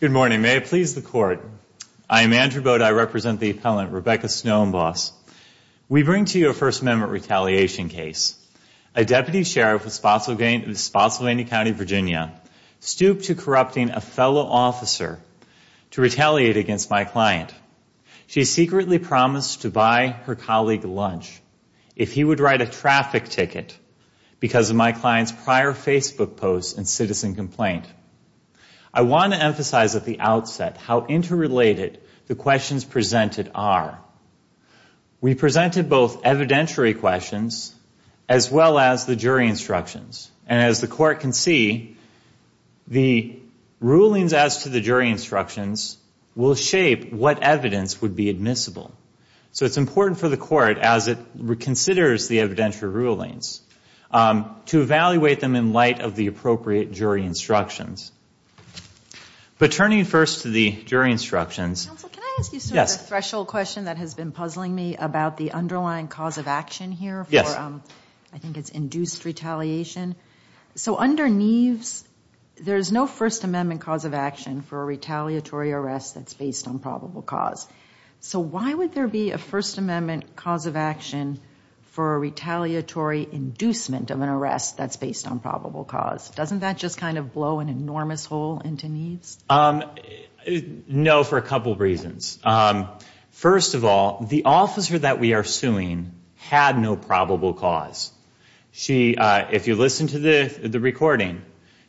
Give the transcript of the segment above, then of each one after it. Good morning. May it please the Court, I am Andrew Bode. I represent the appellant Rebecca Snoeyenbos. We bring to you a First Amendment retaliation case. A deputy sheriff of Spotsylvania County, Virginia stooped to corrupting a fellow officer to retaliate against my client. She secretly promised to buy her colleague lunch if he would write a traffic ticket because of my client's prior Facebook post and citizen complaint. I want to emphasize at the outset how interrelated the questions presented are. We presented both evidentiary questions as well as the jury instructions. And as the Court can see, the rulings as to the jury instructions will shape what evidence would be admissible. So it's important for the Court as it considers the evidentiary rulings to evaluate them in light of the appropriate jury instructions. But turning first to the jury instructions. Counsel, can I ask you sort of a threshold question that has been puzzling me about the underlying cause of action here for, I think it's induced retaliation. So under Neves, there's no First Amendment cause of action for a retaliatory arrest that's based on probable cause. So why would there be a First Amendment cause of action for a retaliatory inducement of an arrest that's based on probable cause? Doesn't that just kind of blow an enormous hole into Neves? No, for a couple of reasons. First of all, the officer that we are suing had no probable cause. If you listen to the recording,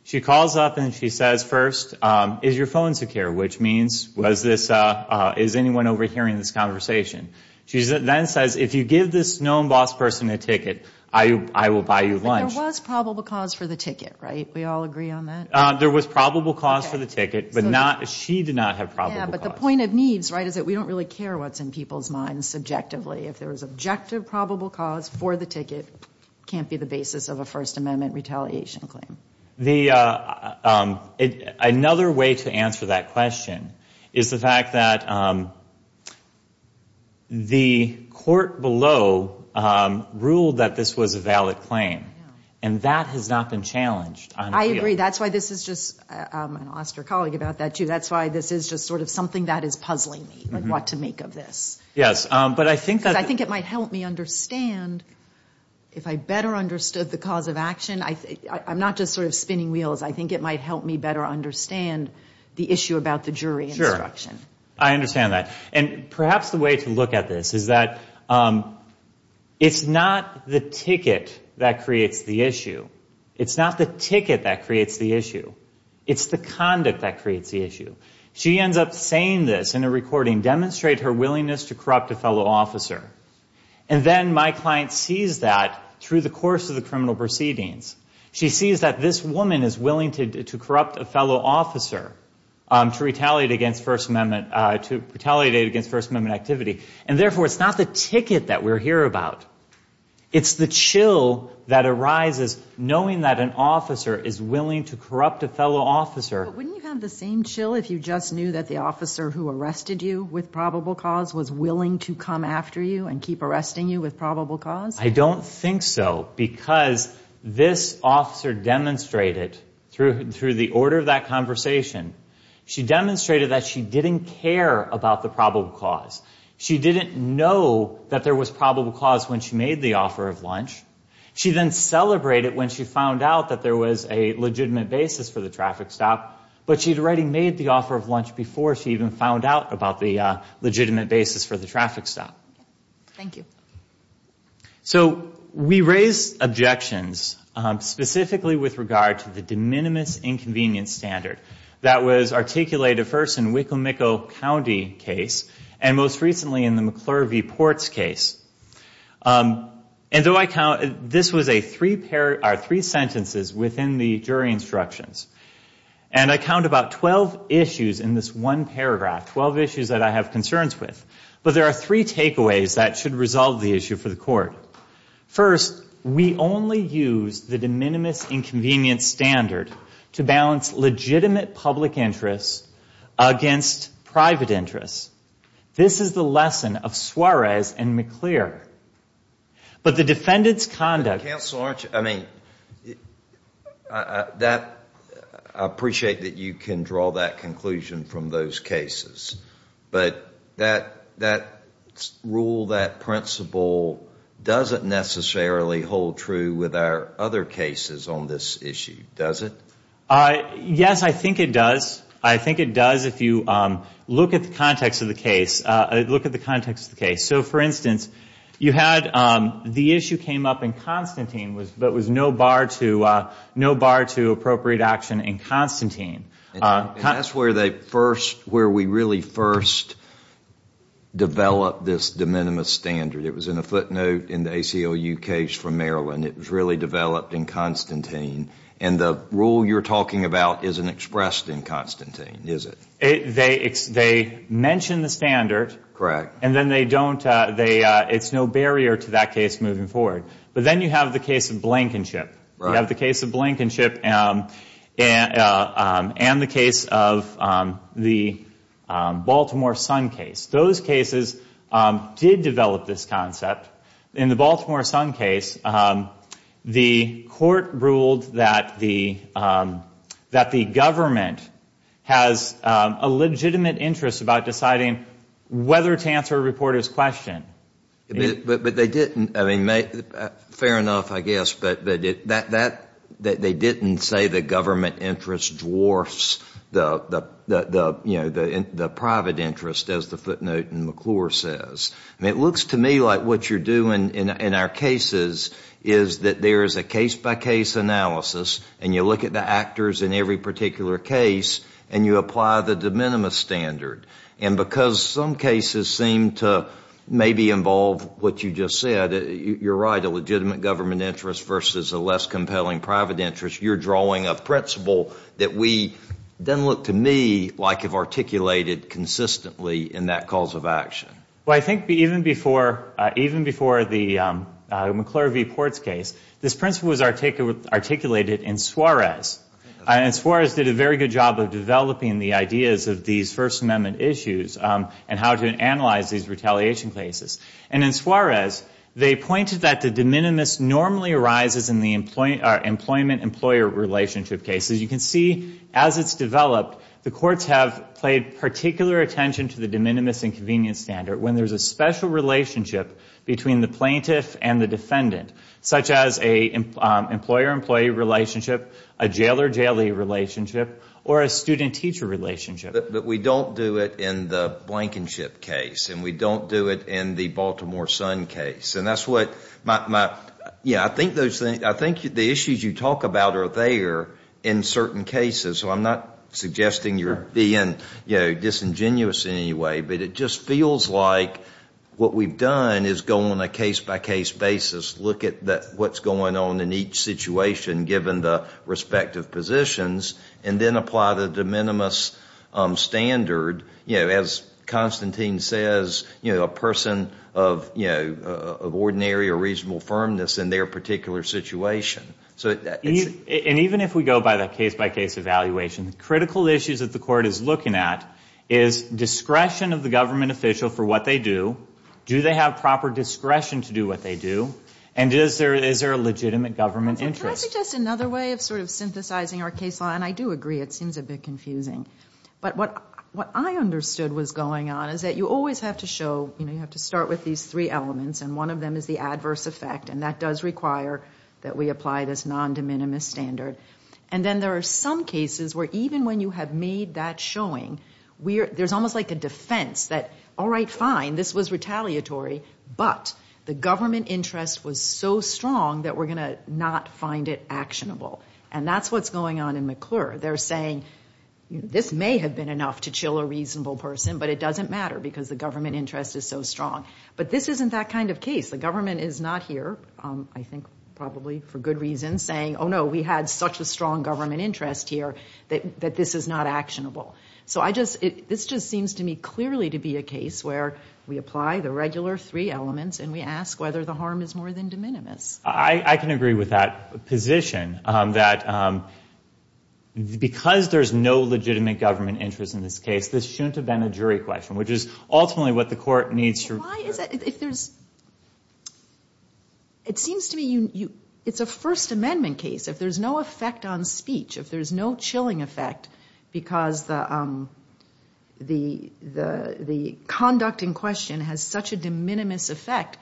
she calls up and she says first, is your phone secure? Which means, is anyone overhearing this conversation? She then says, if you give this known boss person a ticket, I will buy you lunch. But there was probable cause for the ticket, right? We all agree on that? There was probable cause for the ticket, but she did not have probable cause. Yeah, but the point of Neves, right, is that we don't really care what's in people's minds subjectively. If there was objective probable cause for the ticket, it can't be the basis of a First Amendment retaliation claim. Another way to answer that question is the fact that the court below ruled that this was a valid claim, and that has not been challenged. I agree. That's why this is just, and I'll ask your colleague about that too, that's why this is just sort of something that is puzzling me, like what to make of this. Yes, but I think that I think it might help me understand, if I better understood the cause of action, I'm not just sort of spinning wheels, I think it might help me better understand the issue about the jury instruction. Sure, I understand that. And perhaps the way to look at this is that it's not the ticket that creates the issue. It's not the ticket that creates the issue. It's the conduct that creates the issue. She ends up saying this in a recording, demonstrate her willingness to corrupt a fellow officer. And then my client sees that through the course of the criminal proceedings, she sees that this woman is willing to corrupt a fellow officer to retaliate against First Amendment, to retaliate against First Amendment activity. And therefore, it's not the ticket that we're here about. It's the chill that arises knowing that an officer is willing to corrupt a fellow officer. But wouldn't you have the same chill if you just knew that the officer who arrested you with probable cause was willing to come after you and keep arresting you with probable cause? I don't think so, because this officer demonstrated through the order of that conversation, she demonstrated that she didn't care about the probable cause. She didn't know that there was probable cause when she made the offer of lunch. She then celebrated when she found out that there was a legitimate basis for the traffic stop, but she'd already made the offer of lunch before she even found out about the legitimate basis for the traffic stop. Thank you. So, we raise objections specifically with regard to the de minimis inconvenience standard that was articulated first in Wicomico County case and most recently in the McClure v. Ports case. And though I count, this was a three sentences within the jury instructions. And I count about 12 issues in this one paragraph, 12 issues that I have concerns with. But there are three takeaways that should resolve the issue for the court. First, we only use the de minimis inconvenience standard to balance legitimate public interests against private interests. This is the lesson of Suarez and McClure. But the defendant's conduct. Counsel, aren't you, I mean, that, I appreciate that you can draw that conclusion from those cases. But that rule, that principle, doesn't necessarily hold true with our other cases on this issue, does it? Yes, I think it does. I think it does if you look at the context of the case. Look at the context of the case. So, for instance, you had the issue came up in Constantine, but it was no bar to appropriate action in Constantine. And that's where we really first developed this de minimis standard. It was in a footnote in the ACLU case from Maryland. It was really developed in Constantine. And the rule you're talking about isn't expressed in Constantine, is it? They mention the standard. Correct. And then they don't, it's no barrier to that case moving forward. But then you have the case of Blankenship and the case of the Baltimore Sun case. Those cases did develop this concept. In the Baltimore Sun case, the court ruled that the government has a legitimate interest about deciding whether to answer a reporter's question. But they didn't, I mean, fair enough, I guess, but they didn't say the government interest dwarfs the private interest, as the footnote in McClure says. It looks to me like what you're doing in our cases is that there is a case-by-case analysis and you look at the actors in every particular case and you apply the de minimis standard. And because some of them may involve what you just said, you're right, a legitimate government interest versus a less compelling private interest, you're drawing a principle that we, doesn't look to me like you've articulated consistently in that cause of action. Well, I think even before the McClure v. Ports case, this principle was articulated in Suarez. And Suarez did a very good job of developing the ideas of these First Amendment issues and how to analyze these retaliation cases. And in Suarez, they pointed that the de minimis normally arises in the employment-employer relationship cases. You can see, as it's developed, the courts have paid particular attention to the de minimis and convenience standard when there's a special relationship between the plaintiff and the defendant, such as an employer-employee relationship, a jailer-jailee relationship, or a student-teacher relationship. But we don't do it in the Blankenship case and we don't do it in the Baltimore Sun case. And that's what my, yeah, I think those things, I think the issues you talk about are there in certain cases, so I'm not suggesting you're being disingenuous in any way, but it just feels like what we've done is go on a case-by-case basis, look at what's going on in each situation given the respective positions, and then apply the de minimis standard, as Constantine says, a person of ordinary or reasonable firmness in their particular situation. And even if we go by the case-by-case evaluation, the critical issues that the court is looking at is discretion of the government official for what they do, do they have proper discretion to do what they do, and is there a legitimate government interest? Can I suggest another way of sort of synthesizing our case law, and I do agree, it seems a bit confusing. But what I understood was going on is that you always have to show, you know, you have to start with these three elements, and one of them is the adverse effect, and that does require that we apply this non-de minimis standard. And then there are some cases where even when you have made that showing, there's almost like a defense that, all right, fine, this was retaliatory, but the government interest was so strong that we're going to not find it actionable. And that's what's going on in McClure. They're saying, this may have been enough to chill a reasonable person, but it doesn't matter because the government interest is so strong. But this isn't that kind of case. The government is not here, I think probably for good reason, saying, oh no, we had such a strong government interest here that this is not actionable. So I just, this just seems to me clearly to be a case where we apply the regular three elements and we ask whether the harm is more than de minimis. I can agree with that position, that because there's no legitimate government interest in this case, this shouldn't have been a jury question, which is ultimately what the court needs. Why is it, if there's, it seems to me it's a First Amendment case. If there's no effect on speech, if there's no chilling effect because the conduct in question has such a de minimis effect,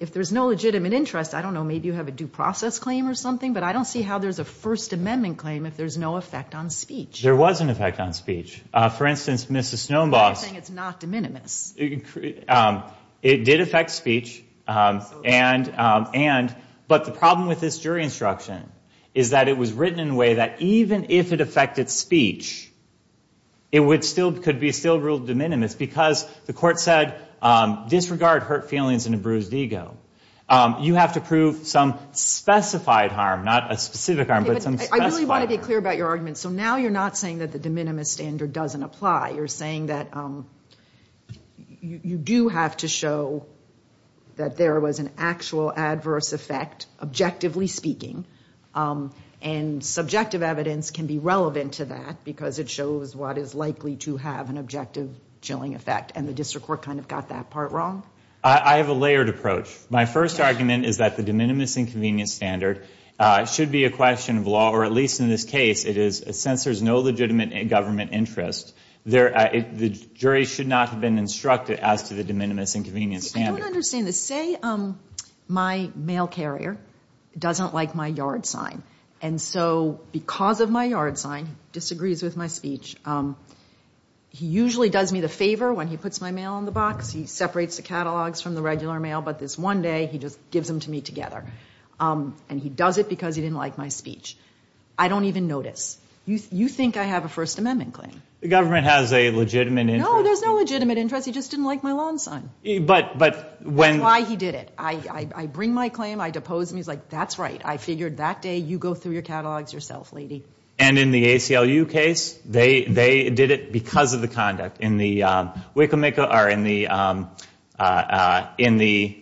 if there's no legitimate interest, I don't know, maybe you have a due process claim or something, but I don't see how there's a First Amendment claim if there's no effect on speech. There was an effect on speech. For instance, Mrs. Snowbox. You're saying it's not de minimis. It did affect speech and, but the problem with this jury instruction is that it was written in a way that even if it affected speech, it would still, could be still ruled de minimis because the court said, disregard hurt feelings and a bruised ego. You have to prove some specified harm, not a specific harm, but some specified harm. I really want to be clear about your argument. So now you're not saying that the de minimis standard doesn't apply. You're saying that you do have to show that there was an actual adverse effect, objectively speaking, and subjective evidence can be relevant to that because it shows what is likely to have an objective chilling effect, and the district court kind of got that part wrong. I have a layered approach. My first argument is that the de minimis inconvenience standard should be a question of law, or at least in this case, it is, since there's no legitimate government interest, the jury should not have been instructed as to the de minimis inconvenience standard. I don't understand this. Say my mail carrier doesn't like my yard sign, and so because of my yard sign, disagrees with my speech, he usually does me the favor when he puts my mail in the box. He separates the catalogs from the regular mail, but this one day he just gives them to me together, and he does it because he didn't like my speech. I don't even notice. You think I have a First Amendment claim. The government has a legitimate interest. No, there's no legitimate interest. He just didn't like my lawn sign. That's why he did it. I bring my claim. I depose him. He's like, that's right. I figured that day you go through your catalogs yourself, lady. And in the ACLU case, they did it because of the conduct. In the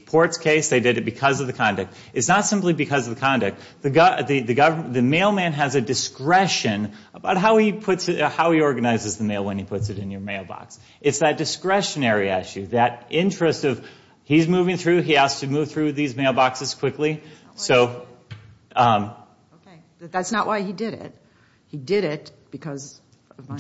Ports case, they did it because of the conduct. It's not simply because of the conduct. The mailman has a discretion about how he organizes the mail when he puts it in your mailbox. It's that discretionary issue, that interest of he's moving through, he has to move through these mailboxes quickly. That's not why he did it. He did it because of my...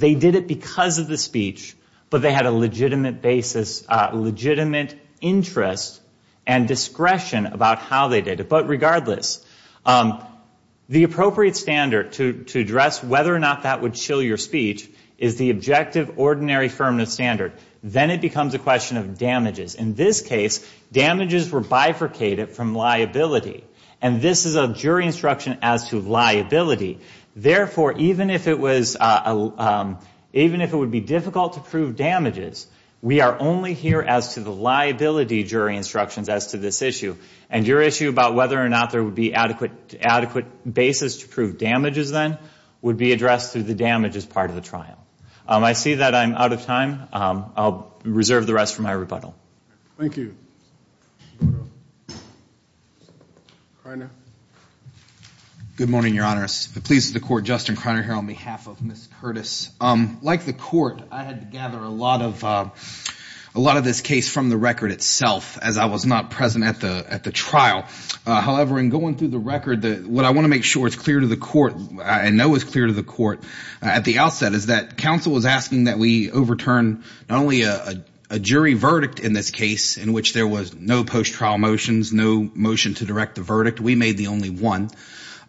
They did it because of the speech, but they had a legitimate basis, legitimate interest and discretion about how they did it. But regardless, the appropriate standard to address whether or not that would chill your speech is the objective ordinary firmness standard. Then it becomes a question of damages. In this case, damages were bifurcated from liability, and this is a jury instruction as to liability. Therefore, even if it would be difficult to prove damages, we are only here as to the liability jury instructions as to this issue. And your issue about whether or not there would be adequate basis to prove damages then would be addressed through the damages part of the trial. I see that I'm out of time. I'll reserve the rest for my rebuttal. Thank you. Kriner. Good morning, Your Honor. The police of the court, Justin Kriner, here on behalf of Ms. Curtis. Like the court, I had to gather a lot of this case from the record itself as I was not present at the trial. However, in going through the record, what I want to make sure is clear to the court, I know is clear to the court at the outset, is that counsel was asking that we overturn not only a jury verdict in this case, in which there was no post-trial motions, no motion to direct the verdict. We made the only one.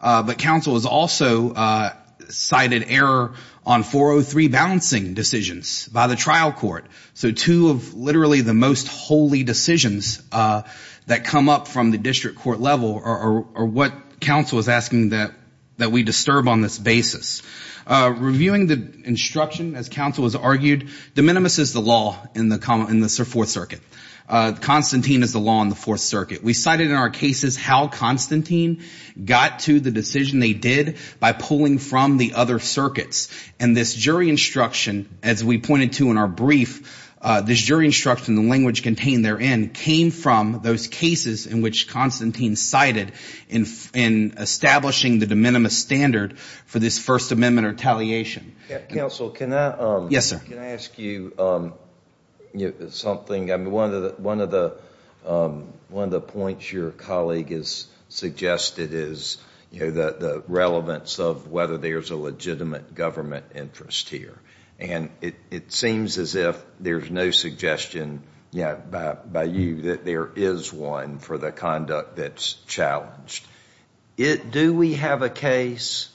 But counsel has also cited error on 403 balancing decisions by the trial court. So two of literally the most holy decisions that come up from the district court level are what counsel is asking that we disturb on this basis. Reviewing the instruction, as counsel has argued, de minimis is the law in the Fourth Circuit. Constantine is the law in the Fourth Circuit. We cited in our cases how Constantine got to the decision they did by pulling from the other circuits. And this jury instruction, as we pointed to in our brief, this jury instruction, the language contained therein, came from those cases in which Constantine cited in establishing the de minimis standard for this First Amendment retaliation. Counsel, can I ask you something? One of the points your colleague has suggested is the relevance of whether there's a legitimate government interest here. And it seems as if there's no suggestion yet by you that there is one for the conduct that's challenged. Do we have a case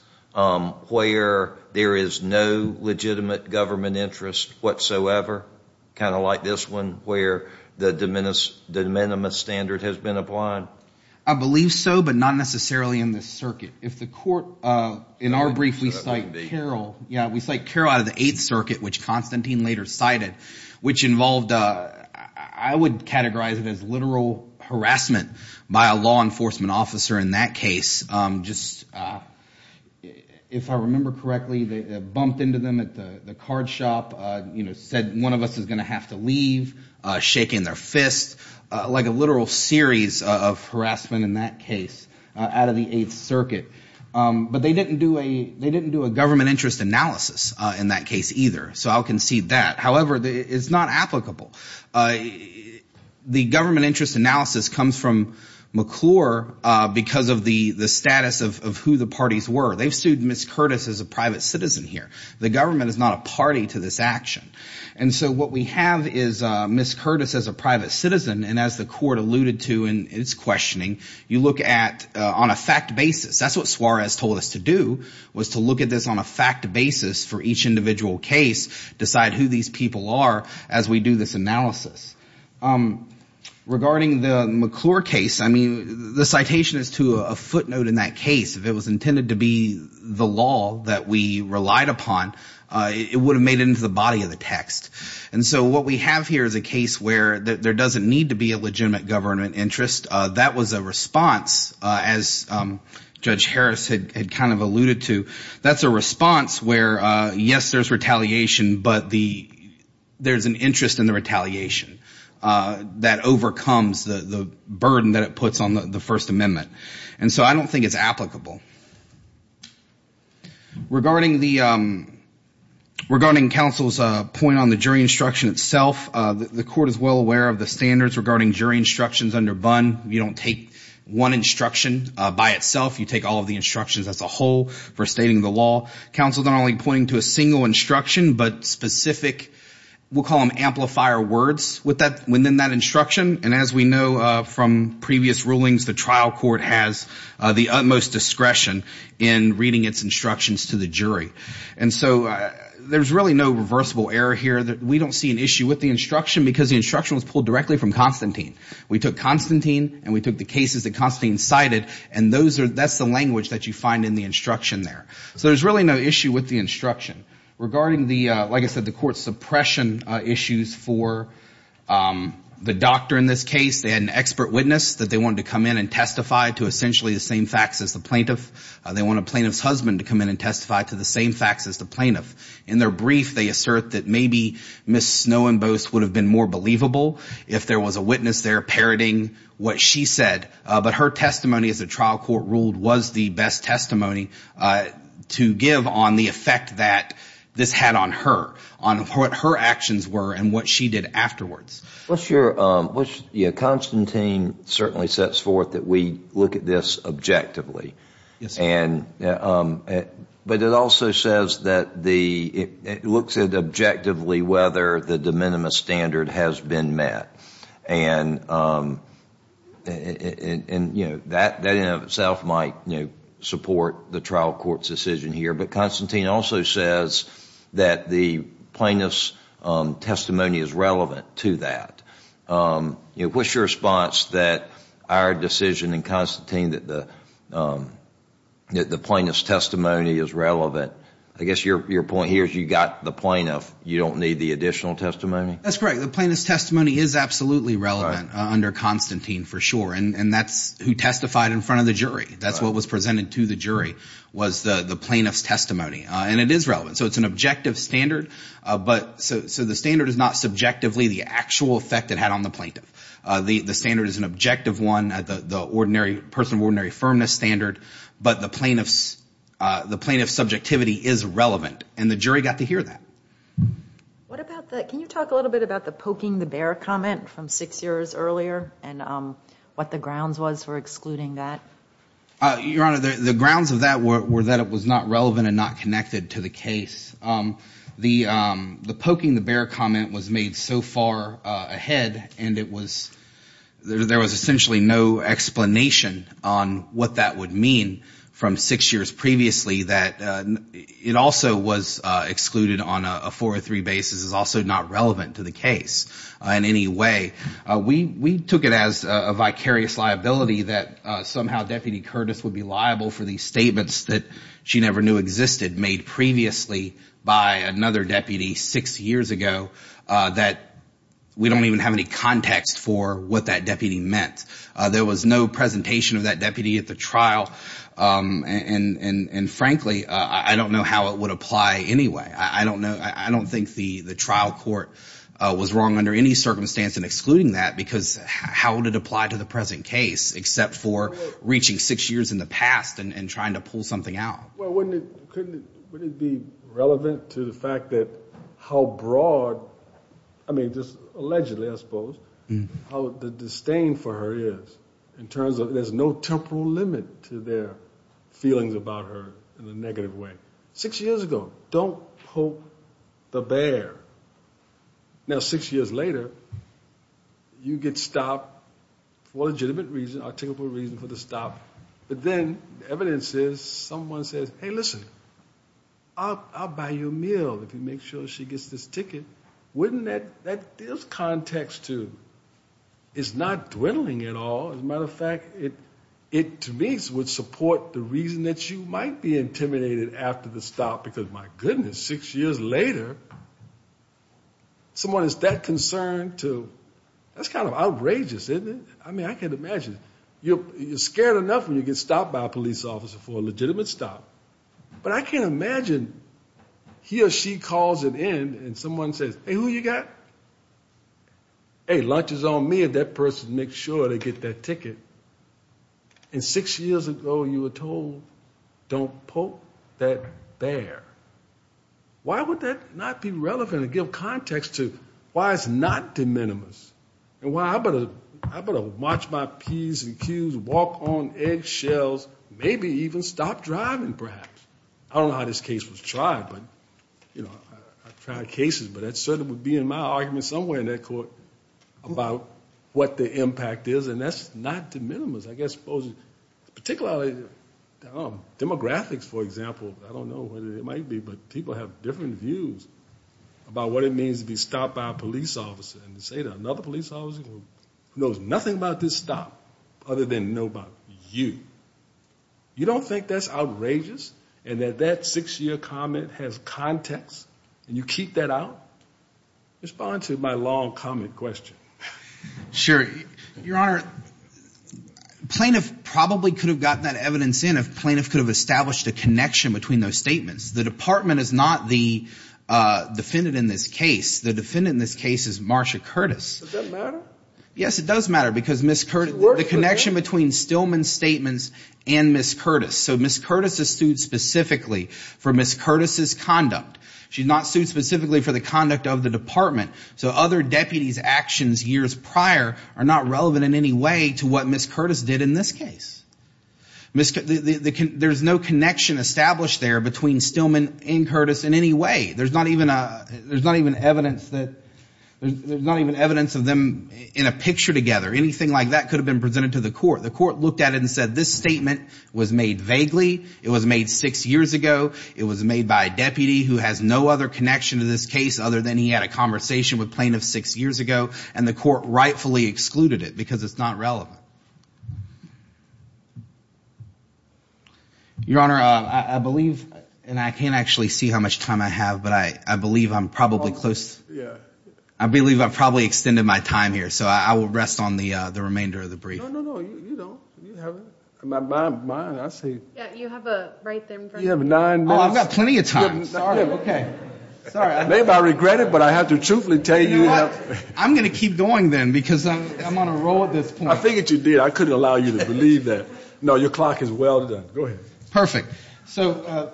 where there is no legitimate government interest whatsoever, kind of like this one, where the de minimis standard has been applied? I believe so, but not necessarily in this circuit. In our brief, we cite Carroll out of the Eighth Circuit, which Constantine later cited, which involved, I would categorize it as literal harassment by a law enforcement officer in that case. If I remember correctly, they bumped into them at the card shop, said one of us is going to have to leave, shaking their fists, like a literal series of harassment in that case out of the Eighth Circuit. But they didn't do a government interest analysis in that case either, so I'll concede that. However, it's not applicable. The government interest analysis comes from McClure because of the status of who the parties were. They've sued Ms. Curtis as a private citizen here. The government is not a party to this action. And so what we have is Ms. Curtis as a private citizen, and as the court alluded to in its questioning, you look at on a fact basis. That's what Suarez told us to do, was to look at this on a fact basis for each individual case, decide who these people are as we do this analysis. Regarding the McClure case, I mean, the citation is to a footnote in that case. If it was intended to be the law that we relied upon, it would have made it into the body of the text. And so what we have here is a case where there doesn't need to be a legitimate government interest. That was a response, as Judge Harris had kind of alluded to. That's a response where, yes, there's retaliation, but there's an interest in the retaliation that overcomes the burden that it puts on the First Amendment. And so I don't think it's applicable. Regarding counsel's point on the jury instruction itself, the court is well aware of the standards regarding jury instructions under BUN. You don't take one instruction by itself. You take all of the instructions as a whole for stating the law. Counsel's not only pointing to a single instruction, but specific, we'll call them amplifier words within that instruction. And as we know from previous rulings, the trial court has the utmost discretion in reading its instructions to the jury. And so there's really no reversible error here. We don't see an issue with the instruction because the instruction was pulled directly from Constantine. We took Constantine and we took the cases that Constantine cited, and that's the language that you find in the instruction there. Regarding the, like I said, the court's suppression issues for the doctor in this case, they had an expert witness that they wanted to come in and testify to essentially the same facts as the plaintiff. They want a plaintiff's husband to come in and testify to the same facts as the plaintiff. In their brief, they assert that maybe Ms. Snowenbost would have been more believable if there was a witness there parroting what she said. But her testimony, as the trial court ruled, was the best testimony to give on the effect that this had on her, on what her actions were and what she did afterwards. What's your, yeah, Constantine certainly sets forth that we look at this objectively. Yes, sir. And, but it also says that the, it looks at objectively whether the de minimis standard has been met. And, you know, that in and of itself might, you know, support the trial court's decision here. But Constantine also says that the plaintiff's testimony is relevant to that. You know, what's your response that our decision in Constantine that the plaintiff's testimony is relevant, I guess your point here is you got the plaintiff, you don't need the additional testimony? That's correct. The plaintiff's testimony is absolutely relevant under Constantine for sure. And that's who testified in front of the jury. That's what was presented to the jury was the plaintiff's testimony. And it is relevant. So it's an objective standard. But so the standard is not subjectively the actual effect it had on the plaintiff. The standard is an objective one, the ordinary person, ordinary firmness standard. But the plaintiff's subjectivity is relevant. And the jury got to hear that. What about the, can you talk a little bit about the poking the bear comment from six years earlier and what the grounds was for excluding that? Your Honor, the grounds of that were that it was not relevant and not connected to the case. The poking the bear comment was made so far ahead and it was, there was essentially no explanation on what that would mean from six years previously that it also was excluded on a four or three basis is also not relevant to the case in any way. We took it as a vicarious liability that somehow Deputy Curtis would be liable for these statements that she never knew existed made previously by another deputy six years ago that we don't even have any context for what that deputy meant. There was no presentation of that deputy at the trial. And frankly, I don't know how it would apply anyway. I don't think the trial court was wrong under any circumstance in excluding that because how would it apply to the present case except for reaching six years in the past and trying to pull something out? Well, wouldn't it be relevant to the fact that how broad, I mean just allegedly I suppose, how the disdain for her is in terms of there's no temporal limit to their feelings about her in a negative way. Six years ago, don't poke the bear. Now six years later, you get stopped for legitimate reason, articulable reason for the stop. But then the evidence is someone says, hey, listen, I'll buy you a meal if you make sure she gets this ticket. Wouldn't that give context to it's not dwindling at all. As a matter of fact, it to me would support the reason that you might be intimidated after the stop because my goodness, six years later, someone is that concerned to, that's kind of outrageous, isn't it? I mean I can imagine. You're scared enough when you get stopped by a police officer for a legitimate stop. But I can imagine he or she calls it in and someone says, hey, who you got? Hey, lunch is on me if that person makes sure they get that ticket. And six years ago you were told don't poke that bear. Why would that not be relevant to give context to why it's not de minimis? And why I better march my P's and Q's, walk on eggshells, maybe even stop driving perhaps. I don't know how this case was tried, but I've tried cases, but that certainly would be in my argument somewhere in that court about what the impact is. And that's not de minimis. I guess particularly demographics, for example, I don't know whether it might be, but people have different views about what it means to be stopped by a police officer. And to say to another police officer who knows nothing about this stop other than know about you, you don't think that's outrageous and that that six-year comment has context and you keep that out? Respond to my long comment question. Sure. Your Honor, plaintiff probably could have gotten that evidence in if plaintiff could have established a connection between those statements. The department is not the defendant in this case. The defendant in this case is Marsha Curtis. Does that matter? Yes, it does matter because the connection between Stillman's statements and Ms. Curtis. So Ms. Curtis is sued specifically for Ms. Curtis's conduct. She's not sued specifically for the conduct of the department. So other deputies' actions years prior are not relevant in any way to what Ms. Curtis did in this case. There's no connection established there between Stillman and Curtis in any way. There's not even evidence of them in a picture together. Anything like that could have been presented to the court. The court looked at it and said this statement was made vaguely. It was made six years ago. It was made by a deputy who has no other connection to this case other than he had a conversation with plaintiff six years ago. And the court rightfully excluded it because it's not relevant. Your Honor, I believe, and I can't actually see how much time I have, but I believe I'm probably close. I believe I've probably extended my time here. So I will rest on the remainder of the brief. No, no, no. You don't. You have my, I see. Yeah, you have a right there in front of you. You have nine minutes. Oh, I've got plenty of time. Sorry. Okay. Maybe I regret it, but I have to truthfully tell you. You know what? I'm going to keep going then because I'm on a roll at this point. I figured you did. I couldn't allow you to believe that. No, your clock is well done. Go ahead. Perfect. So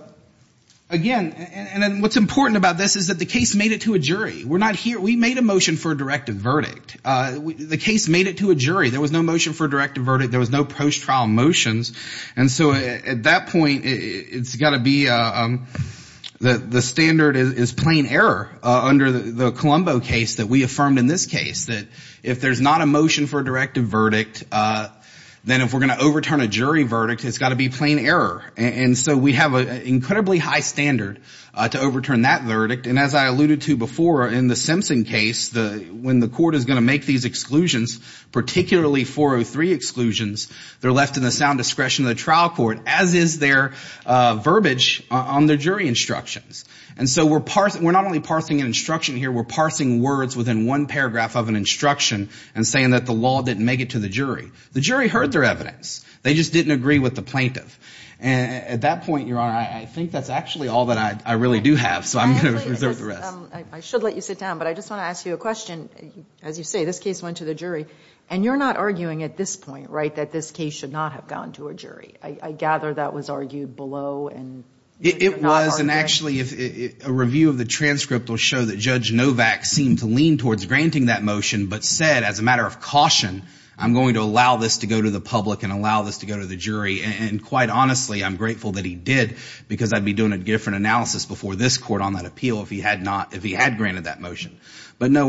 again, and then what's important about this is that the case made it to a jury. We're not here. We made a motion for a directive verdict. The case made it to a jury. There was no motion for a directive verdict. There was no post-trial motions. And so at that point, it's got to be the standard is plain error under the Colombo case that we affirmed in this case, that if there's not a motion for a directive verdict, then if we're going to overturn a jury verdict, it's got to be plain error. And so we have an incredibly high standard to overturn that verdict. And as I alluded to before, in the Simpson case, when the court is going to make these exclusions, particularly 403 exclusions, they're left in the sound discretion of the trial court, as is their verbiage on their jury instructions. And so we're not only parsing an instruction here. We're parsing words within one paragraph of an instruction and saying that the law didn't make it to the jury. The jury heard their evidence. They just didn't agree with the plaintiff. And at that point, Your Honor, I think that's actually all that I really do have, so I'm going to reserve the rest. I should let you sit down, but I just want to ask you a question. As you say, this case went to the jury. And you're not arguing at this point, right, that this case should not have gone to a jury. I gather that was argued below. It was. Yes, and actually a review of the transcript will show that Judge Novak seemed to lean towards granting that motion but said, as a matter of caution, I'm going to allow this to go to the public and allow this to go to the jury. And quite honestly, I'm grateful that he did because I'd be doing a different analysis before this court on that appeal if he had granted that motion. But, no,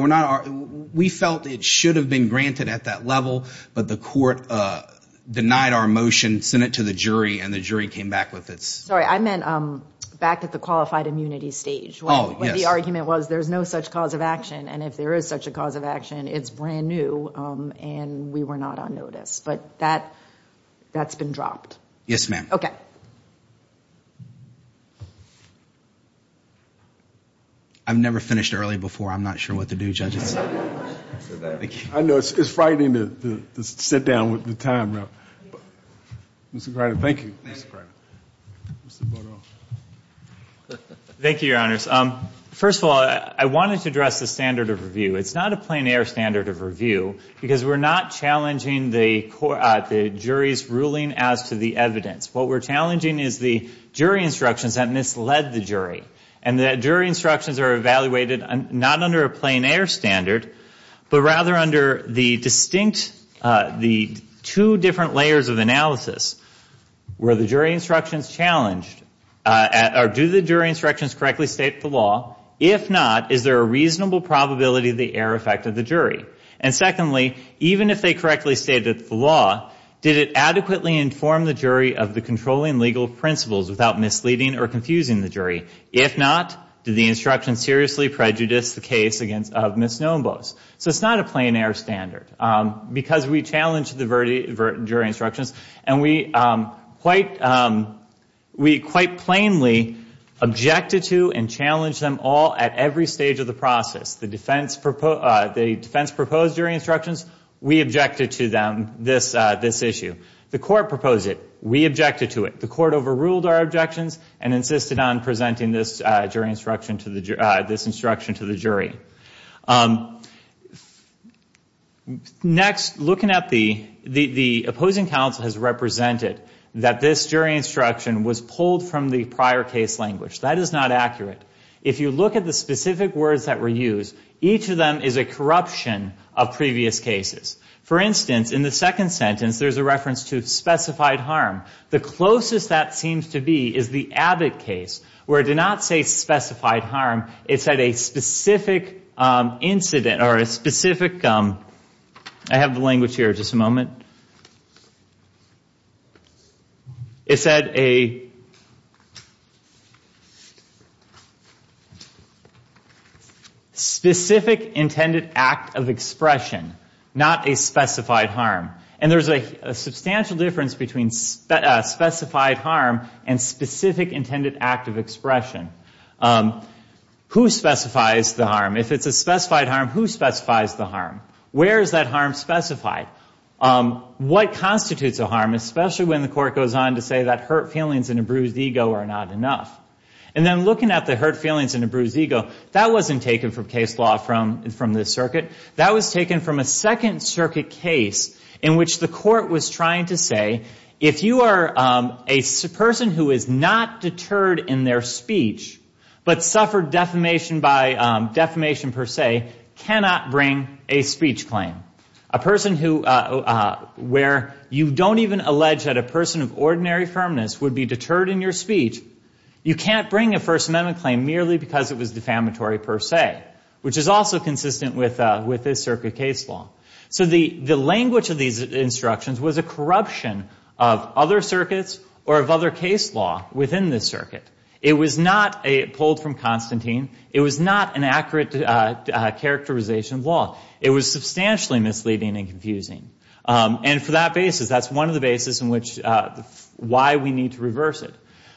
we felt it should have been granted at that level, but the court denied our motion, sent it to the jury, and the jury came back with its. Sorry, I meant back at the qualified immunity stage. Oh, yes. Where the argument was there's no such cause of action, and if there is such a cause of action, it's brand new, and we were not on notice. But that's been dropped. Yes, ma'am. Okay. I've never finished early before. I'm not sure what to do, Judges. I know. It's frightening to sit down with the time. Mr. Grider, thank you. Thank you, Your Honors. First of all, I wanted to address the standard of review. It's not a plein air standard of review because we're not challenging the jury's ruling as to the evidence. What we're challenging is the jury instructions that misled the jury, and the jury instructions are evaluated not under a plein air standard but rather under the distinct, the two different layers of analysis where the jury instructions challenged, do the jury instructions correctly state the law? If not, is there a reasonable probability of the error effect of the jury? And secondly, even if they correctly stated the law, did it adequately inform the jury of the controlling legal principles without misleading or confusing the jury? If not, did the instruction seriously prejudice the case of Ms. Snowenbos? So it's not a plein air standard because we challenged the jury instructions, and we quite plainly objected to and challenged them all at every stage of the process. The defense proposed jury instructions. We objected to them, this issue. The court proposed it. We objected to it. The court overruled our objections and insisted on presenting this jury instruction to the jury. Next, looking at the opposing counsel has represented that this jury instruction was pulled from the prior case language. That is not accurate. If you look at the specific words that were used, each of them is a corruption of previous cases. For instance, in the second sentence, there's a reference to specified harm. The closest that seems to be is the Abbott case, where it did not say specified harm. It said a specific incident or a specific ‑‑ I have the language here. Just a moment. It said a specific intended act of expression, not a specified harm. And there's a substantial difference between specified harm and specific intended act of expression. Who specifies the harm? If it's a specified harm, who specifies the harm? Where is that harm specified? What constitutes a harm, especially when the court goes on to say that hurt feelings and a bruised ego are not enough? And then looking at the hurt feelings and a bruised ego, that wasn't taken from case law from this circuit. That was taken from a Second Circuit case in which the court was trying to say, if you are a person who is not deterred in their speech, but suffered defamation by defamation per se, cannot bring a speech claim. A person where you don't even allege that a person of ordinary firmness would be deterred in your speech, you can't bring a First Amendment claim merely because it was defamatory per se, which is also consistent with this circuit case law. So the language of these instructions was a corruption of other circuits or of other case law within this circuit. It was not pulled from Constantine. It was not an accurate characterization of law. It was substantially misleading and confusing. And for that basis, that's one of the basis in which why we need to reverse it.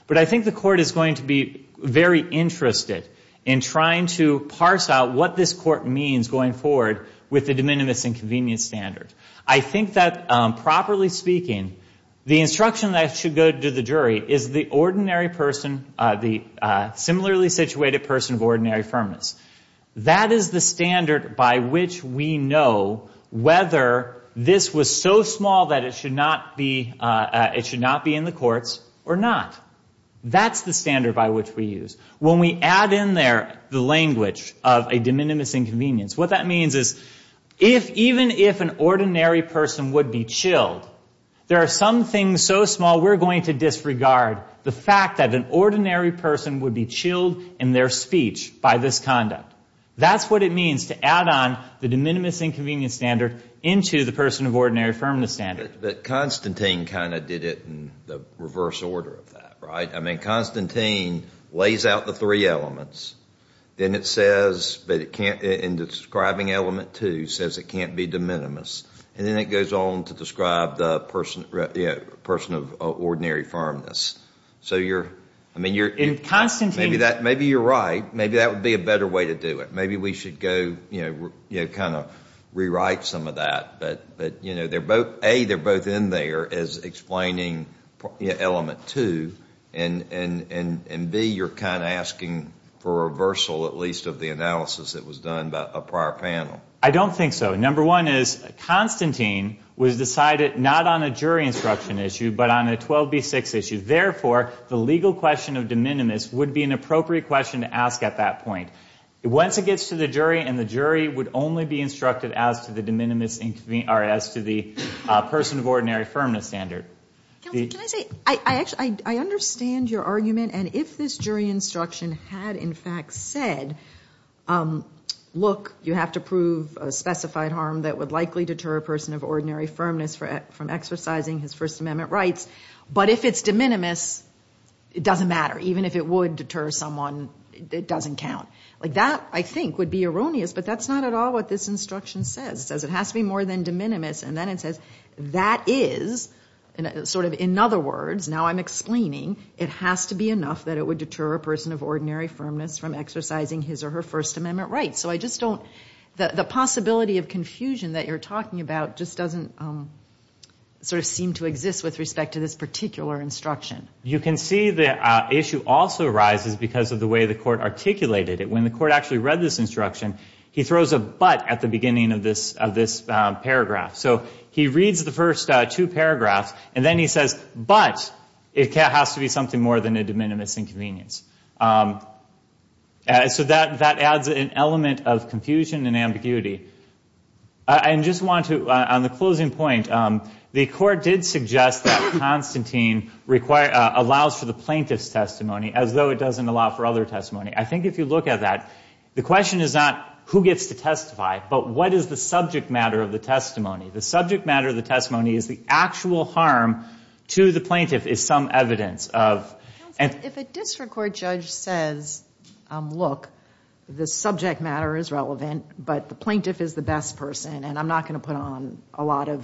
But I think the court is going to be very interested in trying to parse out what this court means going forward with the de minimis and convenience standard. I think that, properly speaking, the instruction that should go to the jury is the ordinary person, the similarly situated person of ordinary firmness. That is the standard by which we know whether this was so small that it should not be in the courts or not. That's the standard by which we use. When we add in there the language of a de minimis and convenience, what that means is even if an ordinary person would be chilled, there are some things so small we're going to disregard the fact that an ordinary person would be chilled in their speech by this conduct. That's what it means to add on the de minimis and convenience standard into the person of ordinary firmness standard. But Constantine kind of did it in the reverse order of that, right? I mean, Constantine lays out the three elements. Then it says, in describing element two, says it can't be de minimis. And then it goes on to describe the person of ordinary firmness. So you're, I mean, you're, maybe you're right. Maybe that would be a better way to do it. Maybe we should go, you know, kind of rewrite some of that. But, you know, A, they're both in there as explaining element two. And B, you're kind of asking for a reversal, at least, of the analysis that was done by a prior panel. I don't think so. Number one is Constantine was decided not on a jury instruction issue but on a 12B6 issue. Therefore, the legal question of de minimis would be an appropriate question to ask at that point. Once it gets to the jury, and the jury would only be instructed as to the de minimis or as to the person of ordinary firmness standard. Can I say, I understand your argument. And if this jury instruction had in fact said, look, you have to prove a specified harm that would likely deter a person of ordinary firmness from exercising his First Amendment rights. But if it's de minimis, it doesn't matter. Even if it would deter someone, it doesn't count. Like that, I think, would be erroneous. But that's not at all what this instruction says. It says it has to be more than de minimis. And then it says that is sort of, in other words, now I'm explaining, it has to be enough that it would deter a person of ordinary firmness from exercising his or her First Amendment rights. So I just don't, the possibility of confusion that you're talking about just doesn't sort of seem to exist with respect to this particular instruction. You can see the issue also arises because of the way the court articulated it. When the court actually read this instruction, he throws a but at the beginning of this paragraph. So he reads the first two paragraphs. And then he says, but it has to be something more than a de minimis inconvenience. So that adds an element of confusion and ambiguity. I just want to, on the closing point, the court did suggest that Constantine allows for the plaintiff's testimony as though it doesn't allow for other testimony. I think if you look at that, the question is not who gets to testify, but what is the subject matter of the testimony? The subject matter of the testimony is the actual harm to the plaintiff is some evidence of. Counsel, if a district court judge says, look, the subject matter is relevant, but the plaintiff is the best person, and I'm not going to put on a lot of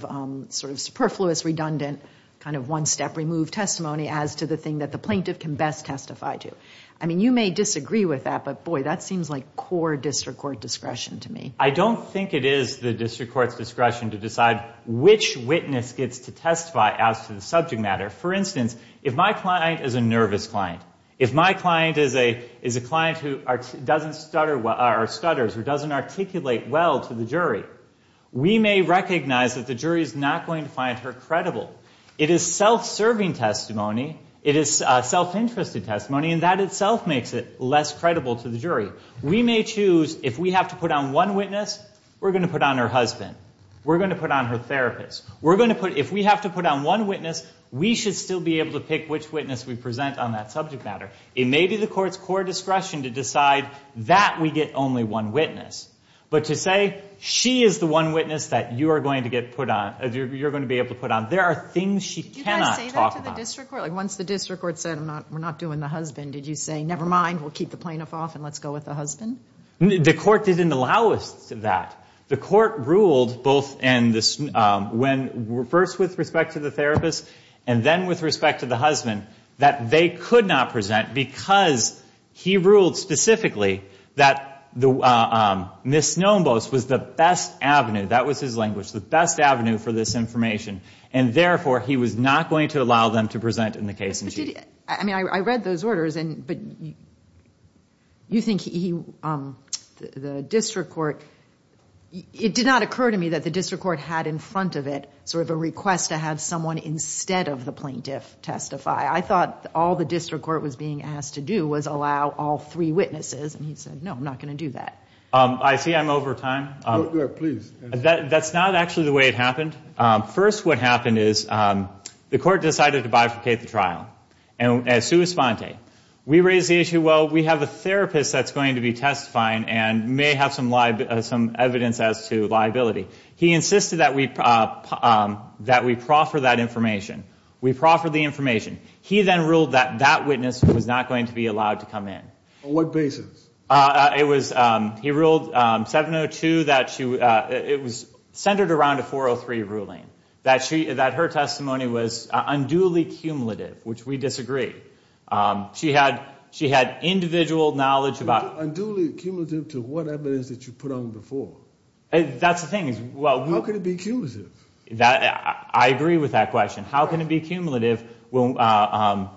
sort of superfluous, redundant, kind of one-step removed testimony as to the thing that the plaintiff can best testify to. I mean, you may disagree with that, but, boy, that seems like core district court discretion to me. I don't think it is the district court's discretion to decide which witness gets to testify as to the subject matter. For instance, if my client is a nervous client, if my client is a client who doesn't stutter or stutters or doesn't articulate well to the jury, we may recognize that the jury is not going to find her credible. It is self-serving testimony. It is self-interested testimony, and that itself makes it less credible to the jury. We may choose if we have to put on one witness, we're going to put on her husband. We're going to put on her therapist. If we have to put on one witness, we should still be able to pick which witness we present on that subject matter. It may be the court's core discretion to decide that we get only one witness. But to say she is the one witness that you are going to be able to put on, there are things she cannot talk about. Do you guys say that to the district court? Like, once the district court said, we're not doing the husband, did you say, never mind, we'll keep the plaintiff off and let's go with the husband? The court didn't allow us that. The court ruled, first with respect to the therapist and then with respect to the husband, that they could not present because he ruled specifically that Ms. Snombos was the best avenue, that was his language, the best avenue for this information, and therefore he was not going to allow them to present in the case in chief. I read those orders, but you think the district court, it did not occur to me that the district court had in front of it sort of a request to have someone instead of the plaintiff testify. I thought all the district court was being asked to do was allow all three witnesses, and he said, no, I'm not going to do that. I see I'm over time. Please. That's not actually the way it happened. First what happened is the court decided to bifurcate the trial. And as sui sponte, we raised the issue, well, we have a therapist that's going to be testifying and may have some evidence as to liability. He insisted that we proffer that information. We proffered the information. He then ruled that that witness was not going to be allowed to come in. On what basis? It was he ruled 702 that it was centered around a 403 ruling that she that her testimony was unduly cumulative, which we disagree. She had she had individual knowledge about unduly cumulative to whatever it is that you put on before. And that's the thing is, well, how could it be accused of that? I agree with that question. How can it be cumulative when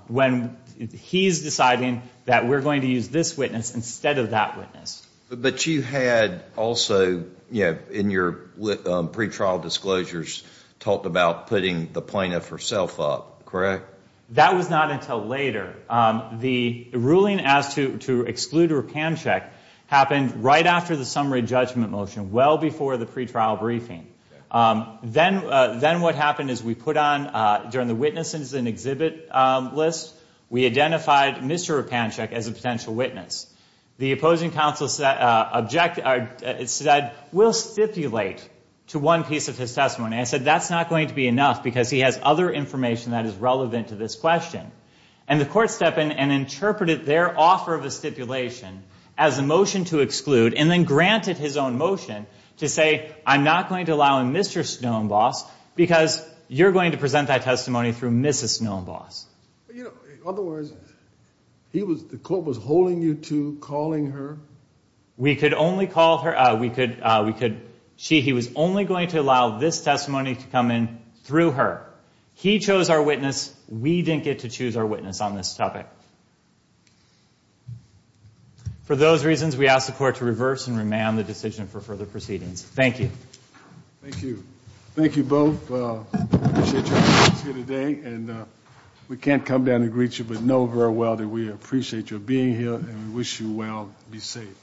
when he's deciding that we're going to use this witness instead of that witness? But you had also, you know, in your pre-trial disclosures, talked about putting the plaintiff herself up, correct? That was not until later. The ruling as to exclude or can check happened right after the summary judgment motion, well before the pre-trial briefing. Then then what happened is we put on during the witnesses and exhibit list. We identified Mr. Pancheck as a potential witness. The opposing counsel said object. It said we'll stipulate to one piece of his testimony. I said that's not going to be enough because he has other information that is relevant to this question. And the court step in and interpreted their offer of a stipulation as a motion to exclude and then granted his own motion to say, I'm not going to allow a Mr. Snow and boss because you're going to present that testimony through Mrs. Snow and boss. Otherwise, he was the court was holding you to calling her. We could only call her. We could we could see he was only going to allow this testimony to come in through her. He chose our witness. We didn't get to choose our witness on this topic. For those reasons, we ask the court to reverse and remand the decision for further proceedings. Thank you. Thank you. Thank you both. And we can't come down and greet you, but know very well that we appreciate your being here and wish you well. Be safe.